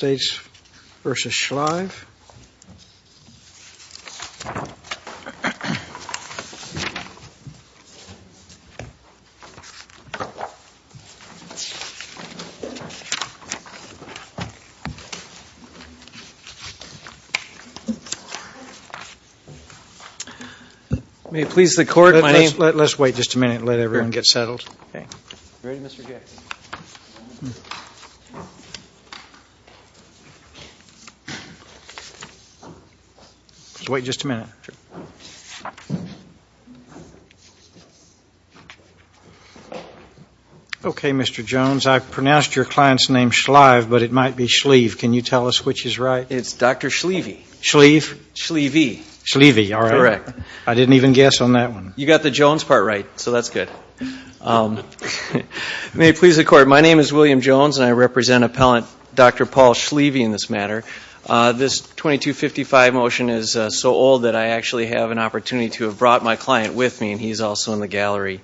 May it please the Court, my name... Let's wait just a minute and let everyone get settled. Okay, Mr. Jones, I pronounced your client's name Schlieve, but it might be Schlieve. Can you tell us which is right? It's Dr. Schlieve. Schlieve? Schlieve. Schlieve, all right. I didn't even guess on that one. You got the Jones part right, so that's good. May it please the Court, my name is William Jones and I represent appellant Dr. Paul Schlieve in this matter. This 2255 motion is so old that I actually have an opportunity to have brought my client with me and he's also in the gallery.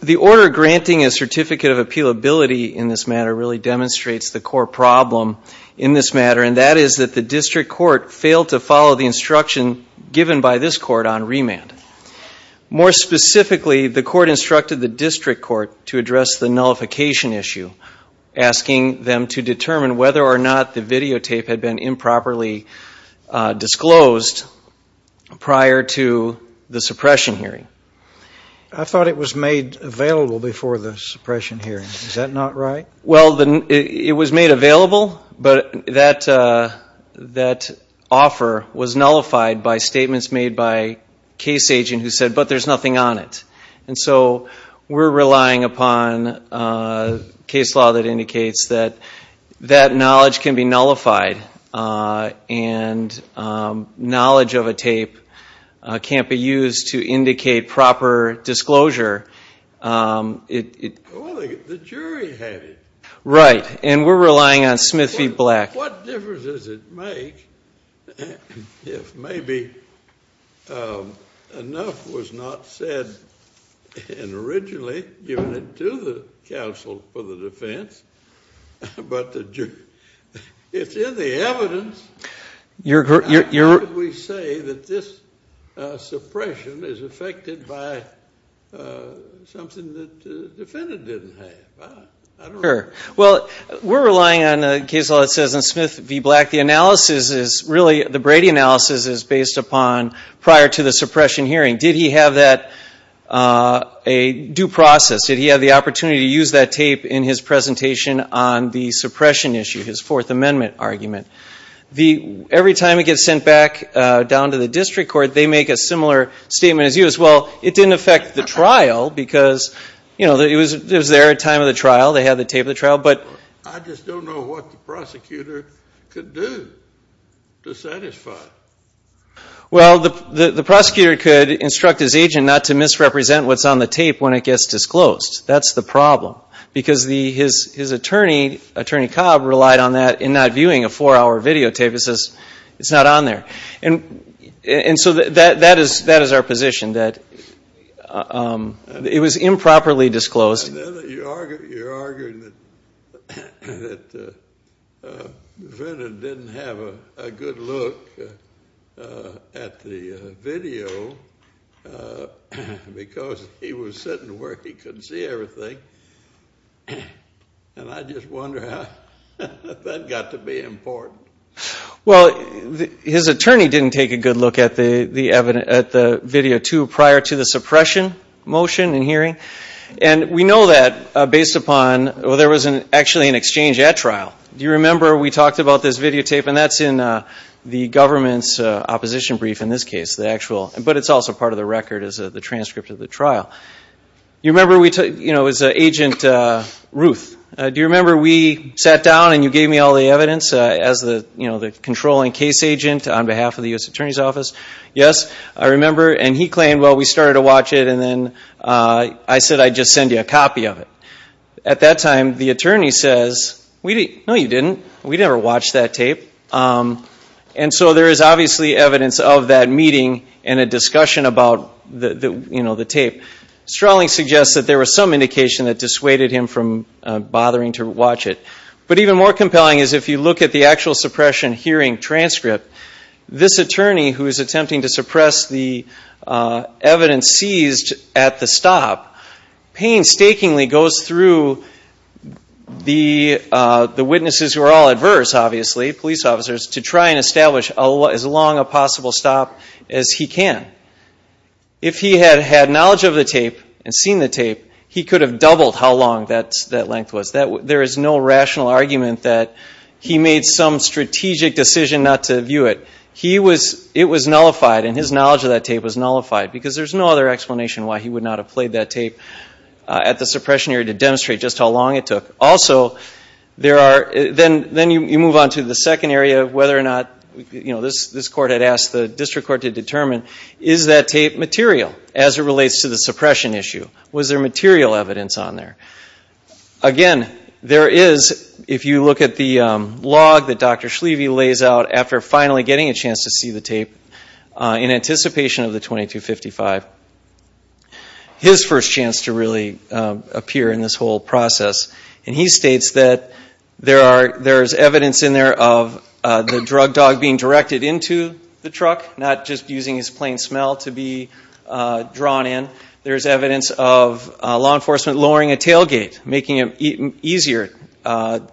The order granting a certificate of appealability in this matter really demonstrates the core problem in this matter, and that is that the district court failed to follow the instruction given by this court on remand. More specifically, the court instructed the district court to address the nullification issue, asking them to determine whether or not the videotape had been improperly disclosed prior to the suppression hearing. I thought it was made available before the suppression hearing. Is that not right? Well, it was made available, but that offer was nullified by statements made by a case agent who said, but there's nothing on it. And so we're relying upon case law that indicates that that knowledge can be nullified and knowledge of a tape can't be used to indicate proper disclosure. Well, the jury had it. Right, and we're relying on Smith v. Black. What difference does it make if maybe enough was not said originally given to the counsel for the defense, but it's in the evidence, how could we say that this suppression is affected by something that the defendant didn't have? Well, we're relying on a case law that says in Smith v. Black the analysis is really, the Brady analysis is based upon prior to the suppression hearing. Did he have that, a due process? Did he have the opportunity to use that tape in his presentation on the suppression issue, his Fourth Amendment argument? Every time it gets sent back down to the district court, they make a similar statement as you. Well, it didn't affect the trial because, you know, it was there at time of the trial. They had the tape of the trial. I just don't know what the prosecutor could do to satisfy it. Well, the prosecutor could instruct his agent not to misrepresent what's on the tape when it gets disclosed. That's the problem because his attorney, Attorney Cobb, relied on that in not viewing a four-hour videotape. It says it's not on there. And so that is our position, that it was improperly disclosed. You're arguing that the defendant didn't have a good look at the video because he was sitting where he couldn't see everything. And I just wonder how that got to be important. Well, his attorney didn't take a good look at the video, too, prior to the suppression motion in hearing. And we know that based upon, well, there was actually an exchange at trial. Do you remember we talked about this videotape? And that's in the government's opposition brief in this case, the actual. But it's also part of the record as the transcript of the trial. You remember we took, you know, it was Agent Ruth. Do you remember we sat down and you gave me all the evidence as the controlling case agent on behalf of the U.S. Attorney's Office? Yes. I remember. And he claimed, well, we started to watch it, and then I said I'd just send you a copy of it. At that time, the attorney says, no, you didn't. We never watched that tape. And so there is obviously evidence of that meeting and a discussion about the tape. Strawley suggests that there was some indication that dissuaded him from bothering to watch it. But even more compelling is if you look at the actual suppression hearing transcript, this attorney, who is attempting to suppress the evidence seized at the stop, painstakingly goes through the witnesses who are all adverse, obviously, police officers, to try and establish as long a possible stop as he can. If he had had knowledge of the tape and seen the tape, he could have doubled how long that length was. There is no rational argument that he made some strategic decision not to view it. It was nullified, and his knowledge of that tape was nullified, because there's no other explanation why he would not have played that tape at the suppression hearing to demonstrate just how long it took. Also, then you move on to the second area of whether or not, you know, this court had asked the district court to determine, is that tape material, as it relates to the suppression issue? Was there material evidence on there? Again, there is, if you look at the log that Dr. Schlieve lays out after finally getting a chance to see the tape in anticipation of the 2255, his first chance to really appear in this whole process. And he states that there's evidence in there of the drug dog being directed into the truck, not just using his plain smell to be drawn in. There's evidence of law enforcement lowering a tailgate, making it easier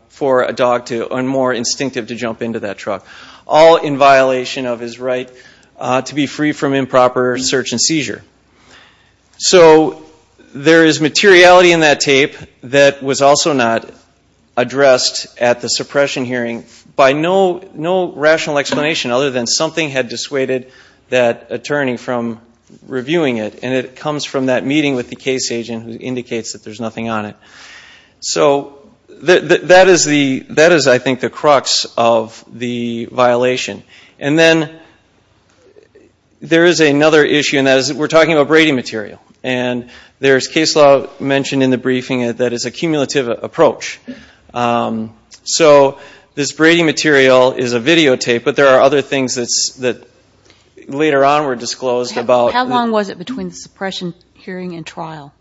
for a dog and more instinctive to jump into that truck, all in violation of his right to be free from improper search and seizure. So there is materiality in that tape that was also not addressed at the suppression hearing by no rational explanation other than something had dissuaded that attorney from reviewing it. And it comes from that meeting with the case agent who indicates that there's nothing on it. So that is, I think, the crux of the violation. And then there is another issue, and that is we're talking about Brady material. And there's case law mentioned in the briefing that is a cumulative approach. So this Brady material is a videotape, but there are other things that later on were disclosed about. How long was it between the suppression hearing and trial?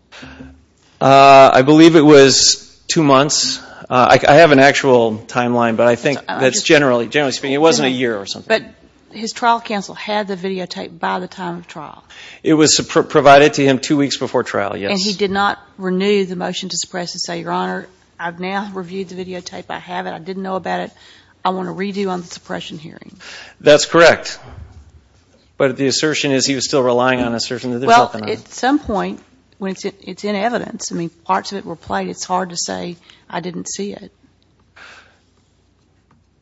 I believe it was two months. I have an actual timeline, but I think that's generally speaking. It wasn't a year or something. But his trial counsel had the videotape by the time of trial. It was provided to him two weeks before trial, yes. And he did not renew the motion to suppress and say, Your Honor, I've now reviewed the videotape. I have it. I didn't know about it. I want to redo on the suppression hearing. That's correct. But the assertion is he was still relying on assertion that there's nothing on it. Well, at some point, when it's in evidence, I mean, parts of it were played. It's hard to say, I didn't see it.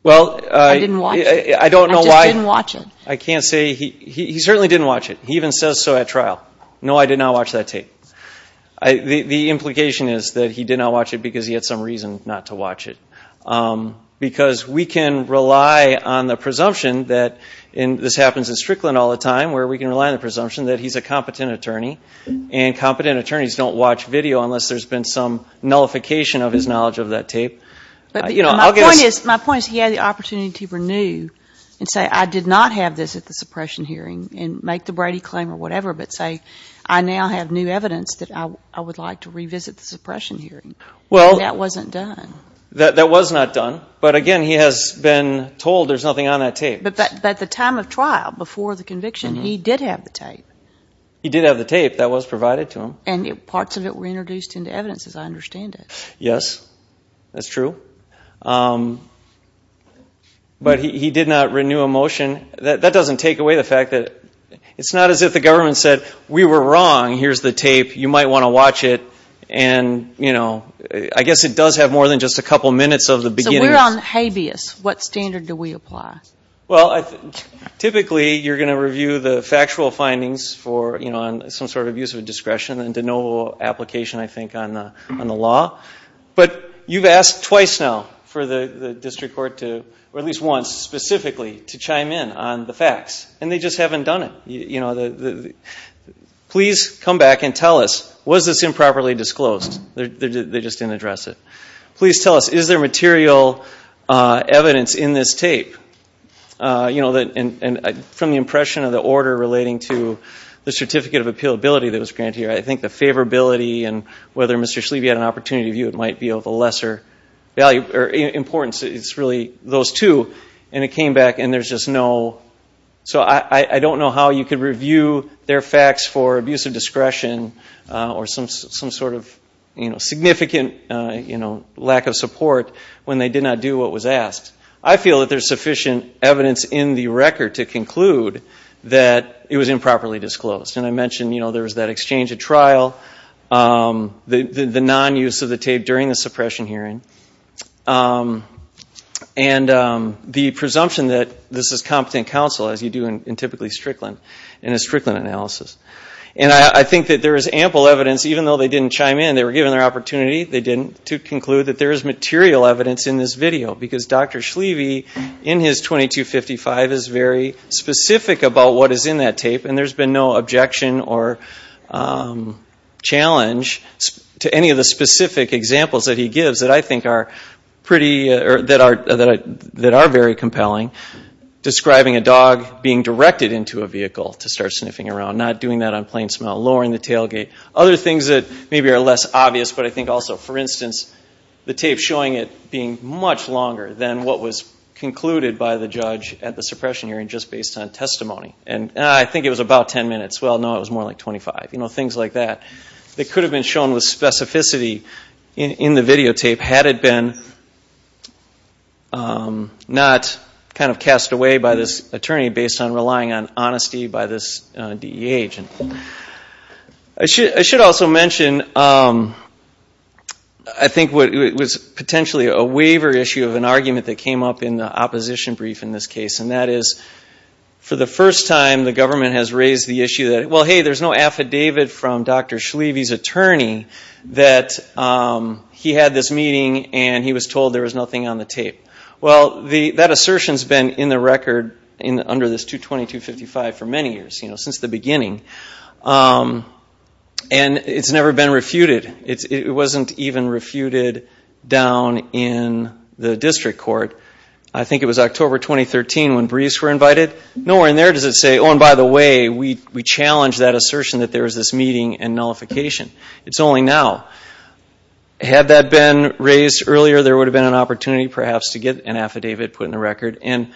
I didn't watch it. I don't know why. I just didn't watch it. I can't say. He certainly didn't watch it. He even says so at trial. No, I did not watch that tape. The implication is that he did not watch it because he had some reason not to watch it. Because we can rely on the presumption that, and this happens in Strickland all the time, where we can rely on the presumption that he's a competent attorney, and competent attorneys don't watch video unless there's been some nullification of his knowledge of that tape. My point is he had the opportunity to renew and say, I did not have this at the suppression hearing, and make the Brady claim or whatever, but say, I now have new evidence that I would like to revisit the suppression hearing. That wasn't done. That was not done. But, again, he has been told there's nothing on that tape. But at the time of trial, before the conviction, he did have the tape. He did have the tape that was provided to him. And parts of it were introduced into evidence, as I understand it. Yes, that's true. But he did not renew a motion. That doesn't take away the fact that it's not as if the government said, we were wrong, here's the tape, you might want to watch it. And, you know, I guess it does have more than just a couple minutes of the beginning. So we're on habeas. What standard do we apply? Well, typically you're going to review the factual findings for, you know, some sort of use of discretion and to no application, I think, on the law. But you've asked twice now for the district court to, or at least once specifically, to chime in on the facts. And they just haven't done it. Please come back and tell us, was this improperly disclosed? They just didn't address it. Please tell us, is there material evidence in this tape? You know, from the impression of the order relating to the certificate of appealability that was granted here, I think the favorability and whether Mr. Schliebe had an opportunity to view it might be of a lesser value or importance, it's really those two. And it came back and there's just no. So I don't know how you could review their facts for abuse of discretion or some sort of significant lack of support when they did not do what was asked. I feel that there's sufficient evidence in the record to conclude that it was improperly disclosed. And I mentioned, you know, there was that exchange at trial, the non-use of the tape during the suppression hearing, and the presumption that this is competent counsel, as you do in typically Strickland, in a Strickland analysis. And I think that there is ample evidence, even though they didn't chime in, they were given their opportunity, they didn't, to conclude that there is material evidence in this video. Because Dr. Schliebe, in his 2255, is very specific about what is in that tape, and there's been no objection or challenge to any of the specific examples that he gives that I think are pretty, that are very compelling, describing a dog being directed into a vehicle to start sniffing around, not doing that on plain smell, lowering the tailgate. Other things that maybe are less obvious, but I think also, for instance, the tape showing it being much longer than what was concluded by the judge at the suppression hearing just based on testimony. And I think it was about 10 minutes. Well, no, it was more like 25. You know, things like that, that could have been shown with specificity in the videotape had it been not kind of cast away by this attorney based on relying on honesty by this DEA agent. I should also mention, I think it was potentially a waiver issue of an argument that came up in the opposition brief in this case, and that is for the first time the government has raised the issue that, well, hey, there's no affidavit from Dr. Schliebe's attorney that he had this meeting and he was told there was nothing on the tape. Well, that assertion has been in the record under this 22255 for many years, since the beginning, and it's never been refuted. It wasn't even refuted down in the district court. I think it was October 2013 when Brees were invited. Nowhere in there does it say, oh, and by the way, we challenged that assertion that there was this meeting and nullification. It's only now. Had that been raised earlier, there would have been an opportunity perhaps to get an affidavit put in the record. And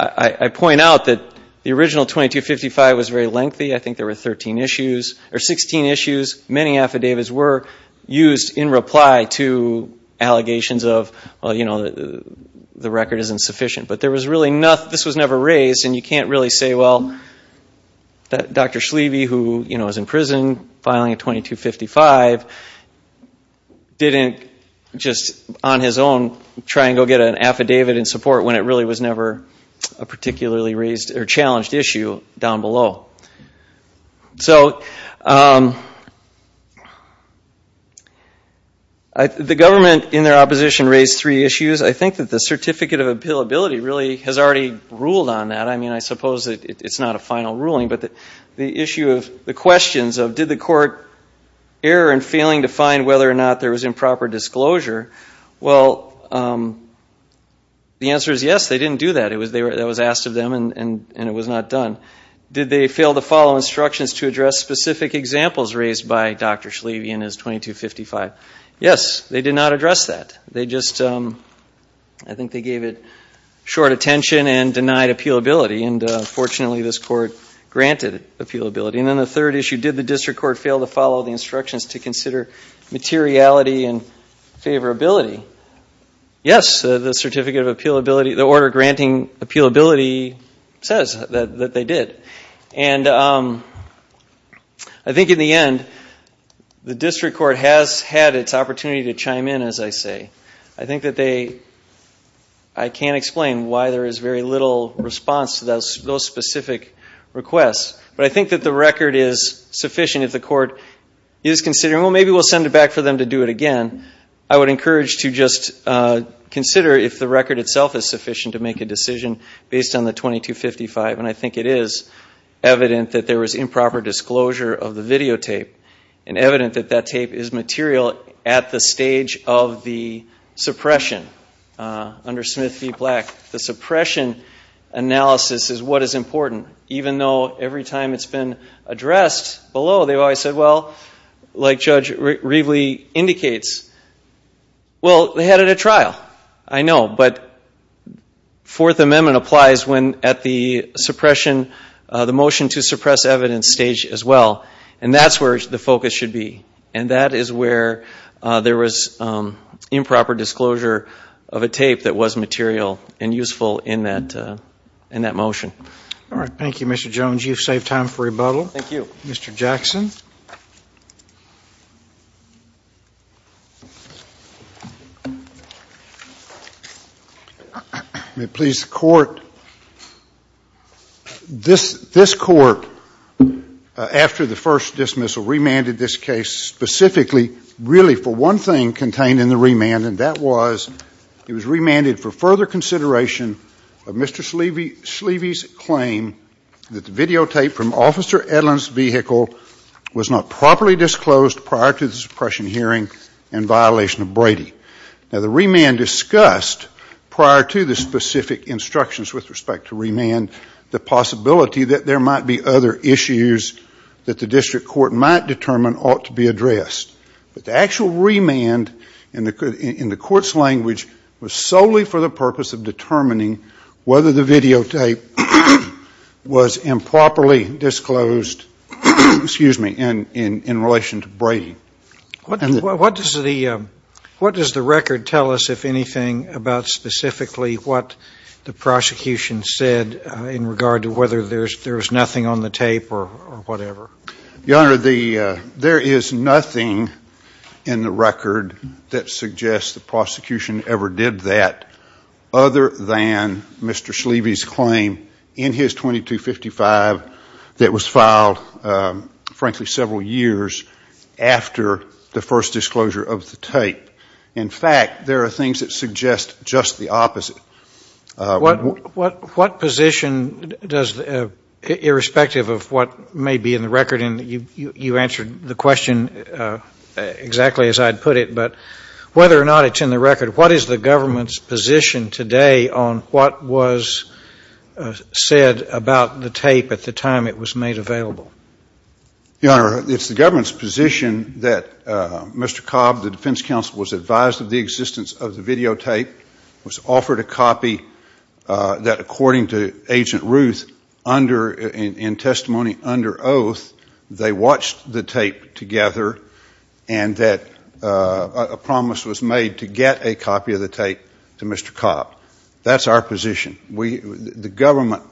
I point out that the original 2255 was very lengthy. I think there were 16 issues. Many affidavits were used in reply to allegations of, well, you know, the record isn't sufficient. But there was really nothing. This was never raised, and you can't really say, well, Dr. Schliebe, who, you know, is in prison, filing a 2255, didn't just on his own try and go get an affidavit in support when it really was never a particularly raised or challenged issue down below. So the government in their opposition raised three issues. I think that the certificate of appealability really has already ruled on that. I mean, I suppose it's not a final ruling, but the issue of the questions of did the court err in failing to find whether or not there was improper disclosure, well, the answer is yes, they didn't do that. That was asked of them, and it was not done. Did they fail to follow instructions to address specific examples raised by Dr. Schliebe in his 2255? Yes, they did not address that. They just, I think they gave it short attention and denied appealability. And fortunately, this court granted appealability. And then the third issue, did the district court fail to follow the instructions to consider materiality and favorability? Yes, the certificate of appealability, the order granting appealability says that they did. And I think in the end, the district court has had its opportunity to chime in, as I say. I think that they, I can't explain why there is very little response to those specific requests. But I think that the record is sufficient if the court is considering, well, maybe we'll send it back for them to do it again. I would encourage to just consider if the record itself is sufficient to make a decision based on the 2255. And I think it is evident that there was improper disclosure of the videotape and evident that that tape is material at the stage of the suppression under Smith v. Black. The suppression analysis is what is important, even though every time it's been addressed below, they've always said, well, like Judge Rieveley indicates, well, they had it at trial, I know. But Fourth Amendment applies when at the suppression, the motion to suppress evidence stage as well. And that's where the focus should be. And that is where there was improper disclosure of a tape that was material and useful in that motion. All right. Thank you, Mr. Jones. You've saved time for rebuttal. Thank you. Mr. Jackson. May it please the Court? This Court, after the first dismissal, remanded this case specifically really for one thing contained in the remand, and that was it was remanded for further consideration of Mr. Schlieve's claim that the videotape from Officer Edlin's vehicle was not properly disclosed prior to the suppression hearing in violation of Brady. Now, the remand discussed prior to the specific instructions with respect to remand the possibility that there might be other issues that the district court might determine ought to be addressed. But the actual remand in the Court's language was solely for the purpose of determining whether the videotape was improperly disclosed in relation to Brady. What does the record tell us, if anything, about specifically what the prosecution said in regard to whether there was nothing on the tape or whatever? Your Honor, there is nothing in the record that suggests the prosecution ever did that other than Mr. Schlieve's claim in his 2255 that was filed, frankly, several years after the first disclosure of the tape. In fact, there are things that suggest just the opposite. What position does, irrespective of what may be in the record, and you answered the question exactly as I'd put it, but whether or not it's in the record, what is the government's position today on what was said about the tape at the time it was made available? Your Honor, it's the government's position that Mr. Cobb, the defense counsel, was advised of the existence of the videotape, was offered a copy that, according to Agent Ruth, in testimony under oath, they watched the tape together and that a promise was made to get a copy of the tape to Mr. Cobb. That's our position. The government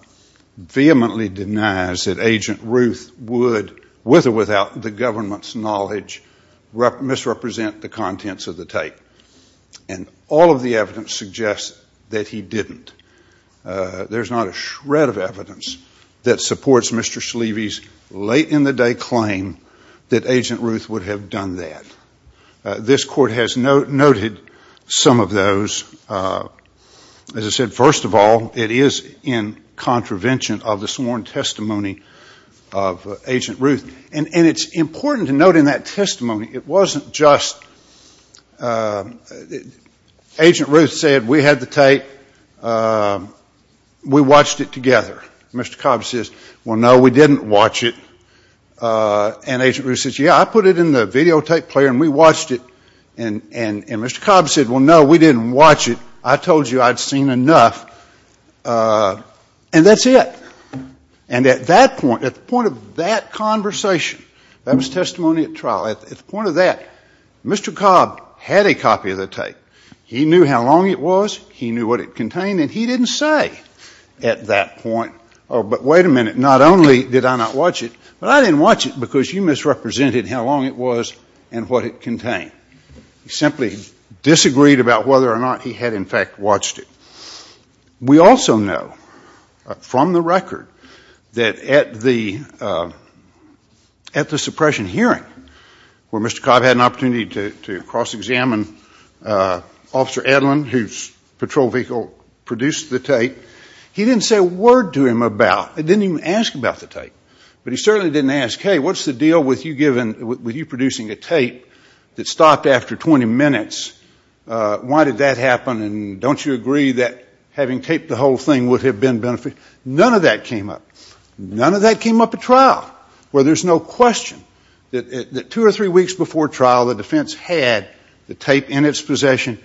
vehemently denies that Agent Ruth would, with or without the government's knowledge, misrepresent the contents of the tape, and all of the evidence suggests that he didn't. There's not a shred of evidence that supports Mr. Schlieve's late-in-the-day claim that Agent Ruth would have done that. This Court has noted some of those. As I said, first of all, it is in contravention of the sworn testimony of Agent Ruth, and it's important to note in that testimony, it wasn't just Agent Ruth said, we had the tape, we watched it together. Mr. Cobb says, well, no, we didn't watch it. And Agent Ruth says, yeah, I put it in the videotape player and we watched it. And Mr. Cobb said, well, no, we didn't watch it. I told you I'd seen enough. And that's it. And at that point, at the point of that conversation, that was testimony at trial. At the point of that, Mr. Cobb had a copy of the tape. He knew how long it was. He knew what it contained. And he didn't say at that point, oh, but wait a minute, not only did I not watch it, but I didn't watch it because you misrepresented how long it was and what it contained. He simply disagreed about whether or not he had, in fact, watched it. We also know from the record that at the suppression hearing, where Mr. Cobb had an opportunity to cross-examine Officer Edlin, whose patrol vehicle produced the tape, he didn't say a word to him about it. He didn't even ask about the tape. But he certainly didn't ask, hey, what's the deal with you producing a tape that stopped after 20 minutes? Why did that happen? And don't you agree that having taped the whole thing would have been beneficial? None of that came up. None of that came up at trial, where there's no question that two or three weeks before trial, the defense had the tape in its possession.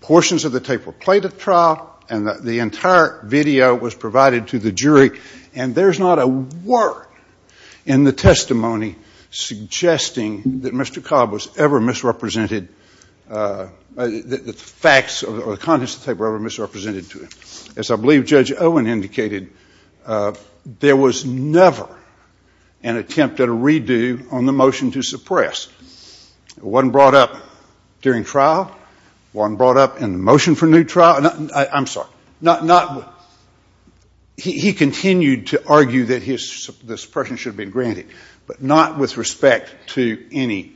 Portions of the tape were played at trial, and the entire video was provided to the jury. And there's not a word in the testimony suggesting that Mr. Cobb was ever misrepresented that the facts or the contents of the tape were ever misrepresented to him. As I believe Judge Owen indicated, there was never an attempt at a redo on the motion to suppress. It wasn't brought up during trial. It wasn't brought up in the motion for new trial. I'm sorry. He continued to argue that the suppression should have been granted, but not with respect to any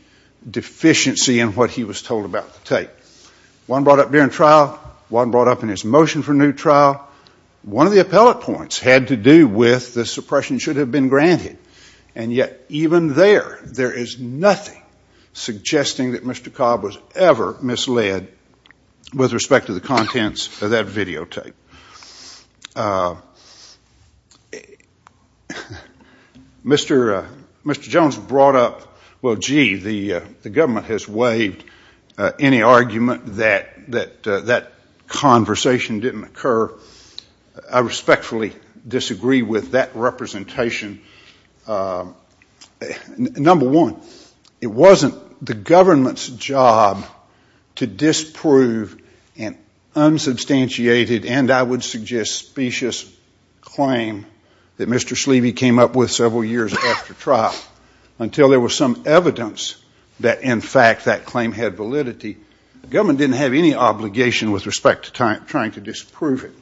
deficiency in what he was told about the tape. It wasn't brought up during trial. It wasn't brought up in his motion for new trial. One of the appellate points had to do with the suppression should have been granted. And yet even there, there is nothing suggesting that Mr. Cobb was ever misled with respect to the contents of that videotape. Mr. Jones brought up, well, gee, the government has waived any argument that that conversation didn't occur. I respectfully disagree with that representation. Number one, it wasn't the government's job to disprove an unsubstantiated and I would suggest specious claim that Mr. Sleevy came up with several years after trial until there was some evidence that in fact that claim had validity. The government didn't have any obligation with respect to trying to disprove it.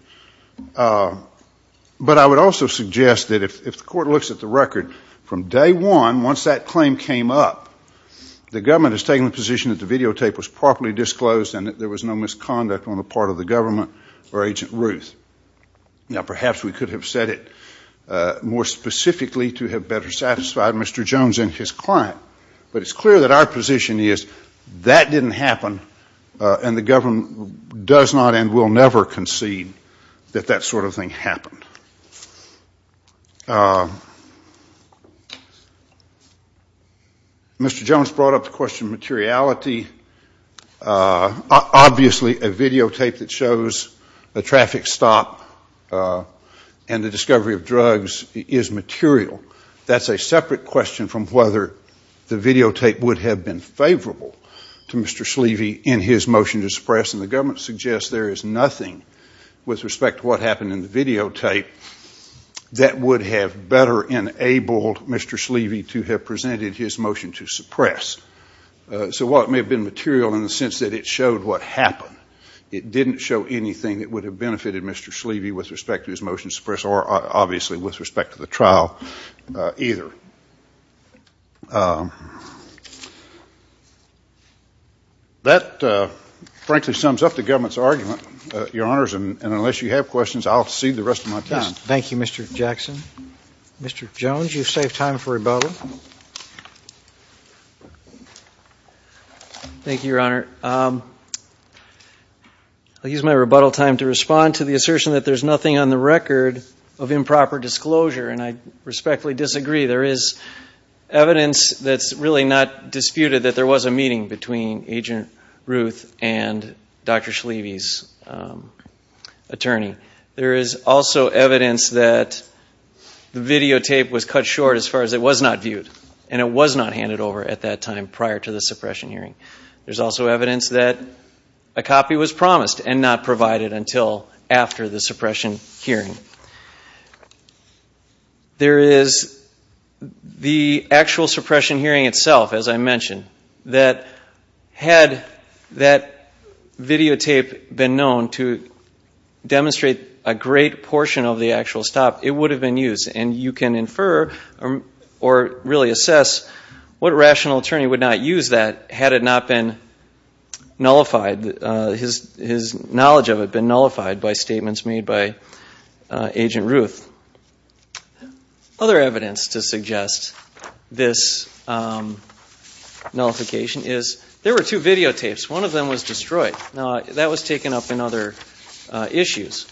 But I would also suggest that if the court looks at the record from day one, once that claim came up, the government has taken the position that the videotape was properly disclosed and that there was no misconduct on the part of the government or Agent Ruth. Now, perhaps we could have said it more specifically to have better satisfied Mr. Jones and his client, but it's clear that our position is that didn't happen and the government does not and will never concede that that sort of thing happened. Mr. Jones brought up the question of materiality. Obviously, a videotape that shows a traffic stop and the discovery of drugs is material. That's a separate question from whether the videotape would have been favorable to Mr. Sleevy in his motion to suppress and the government suggests there is nothing with respect to what happened in the videotape that would have better enabled Mr. Sleevy to have presented his motion to suppress. So while it may have been material in the sense that it showed what happened, it didn't show anything that would have benefited Mr. Sleevy with respect to his motion to suppress or obviously with respect to the trial either. That frankly sums up the government's argument, Your Honors, and unless you have questions, I'll cede the rest of my time. Thank you, Mr. Jackson. Mr. Jones, you've saved time for rebuttal. Thank you, Your Honor. I'll use my rebuttal time to respond to the assertion that there's nothing on the record of improper disclosure, and I respectfully disagree. There is evidence that's really not disputed that there was a meeting between Agent Ruth and Dr. Sleevy's attorney. There is also evidence that the videotape was cut short as far as it was not viewed and it was not handed over at that time prior to the suppression hearing. There's also evidence that a copy was promised and not provided until after the suppression hearing. There is the actual suppression hearing itself, as I mentioned, that had that videotape been known to demonstrate a great portion of the actual stop, it would have been used, and you can infer or really assess what rational attorney would not use that had it not been nullified, his knowledge of it been nullified by statements made by Agent Ruth. Other evidence to suggest this nullification is there were two videotapes. One of them was destroyed. Now, that was taken up in other issues.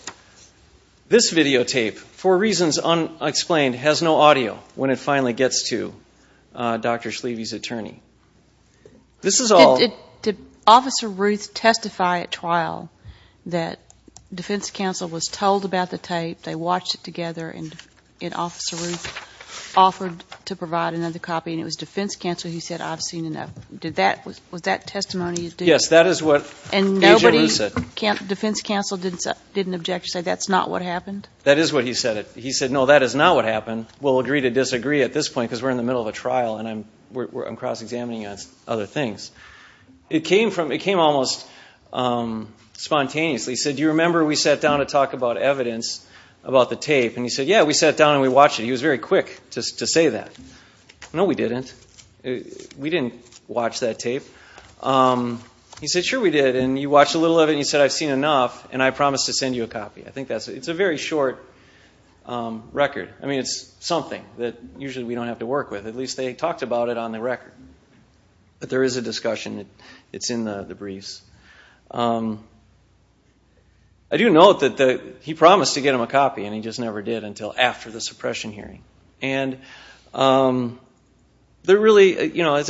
This videotape, for reasons unexplained, has no audio when it finally gets to Dr. Sleevy's attorney. This is all ñ Did Officer Ruth testify at trial that defense counsel was told about the tape, they watched it together, and Officer Ruth offered to provide another copy, and it was defense counsel who said, I've seen enough? Was that testimony? Yes, that is what Agent Ruth said. Defense counsel didn't object to say that's not what happened? That is what he said. He said, no, that is not what happened. We'll agree to disagree at this point because we're in the middle of a trial and I'm cross-examining other things. It came almost spontaneously. He said, do you remember we sat down to talk about evidence about the tape? And he said, yeah, we sat down and we watched it. He was very quick to say that. No, we didn't. We didn't watch that tape. He said, sure we did, and you watched a little of it, and you said I've seen enough, and I promised to send you a copy. It's a very short record. I mean, it's something that usually we don't have to work with. At least they talked about it on the record. But there is a discussion. It's in the briefs. I do note that he promised to get him a copy, and he just never did until after the suppression hearing. As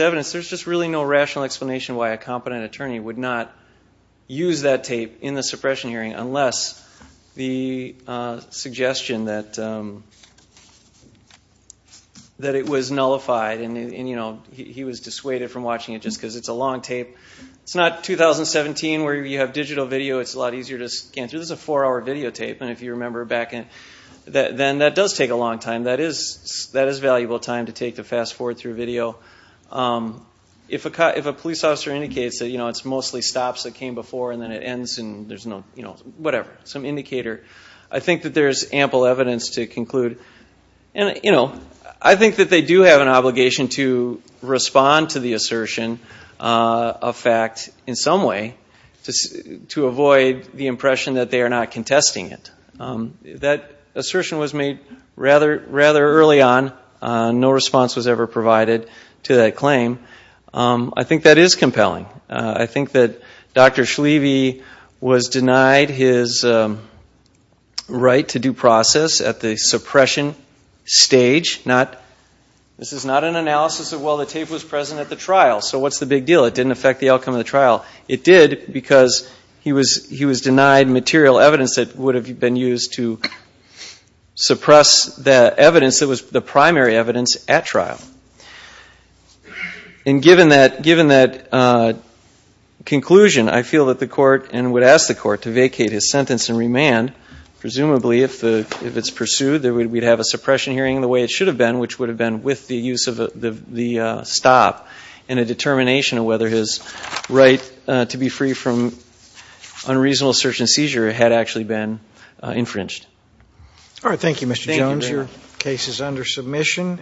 evidence, there's just really no rational explanation why a competent attorney would not use that tape in the suppression hearing unless the suggestion that it was nullified. He was dissuaded from watching it just because it's a long tape. It's not 2017 where you have digital video. It's a lot easier to scan through. This is a four-hour videotape, and if you remember back then, and that does take a long time. That is valuable time to take to fast-forward through video. If a police officer indicates that it's mostly stops that came before, and then it ends, and there's no whatever, some indicator, I think that there's ample evidence to conclude. I think that they do have an obligation to respond to the assertion of fact in some way to avoid the impression that they are not contesting it. That assertion was made rather early on. No response was ever provided to that claim. I think that is compelling. I think that Dr. Schlieve was denied his right to due process at the suppression stage. This is not an analysis of, well, the tape was present at the trial, so what's the big deal? It didn't affect the outcome of the trial. It did because he was denied material evidence that would have been used to suppress the evidence that was the primary evidence at trial. And given that conclusion, I feel that the court, and would ask the court to vacate his sentence and remand, presumably if it's pursued we'd have a suppression hearing the way it should have been, which would have been with the use of the stop and a determination of whether his right to be free from unreasonable search and seizure had actually been infringed. All right. Thank you, Mr. Jones. Your case is under submission.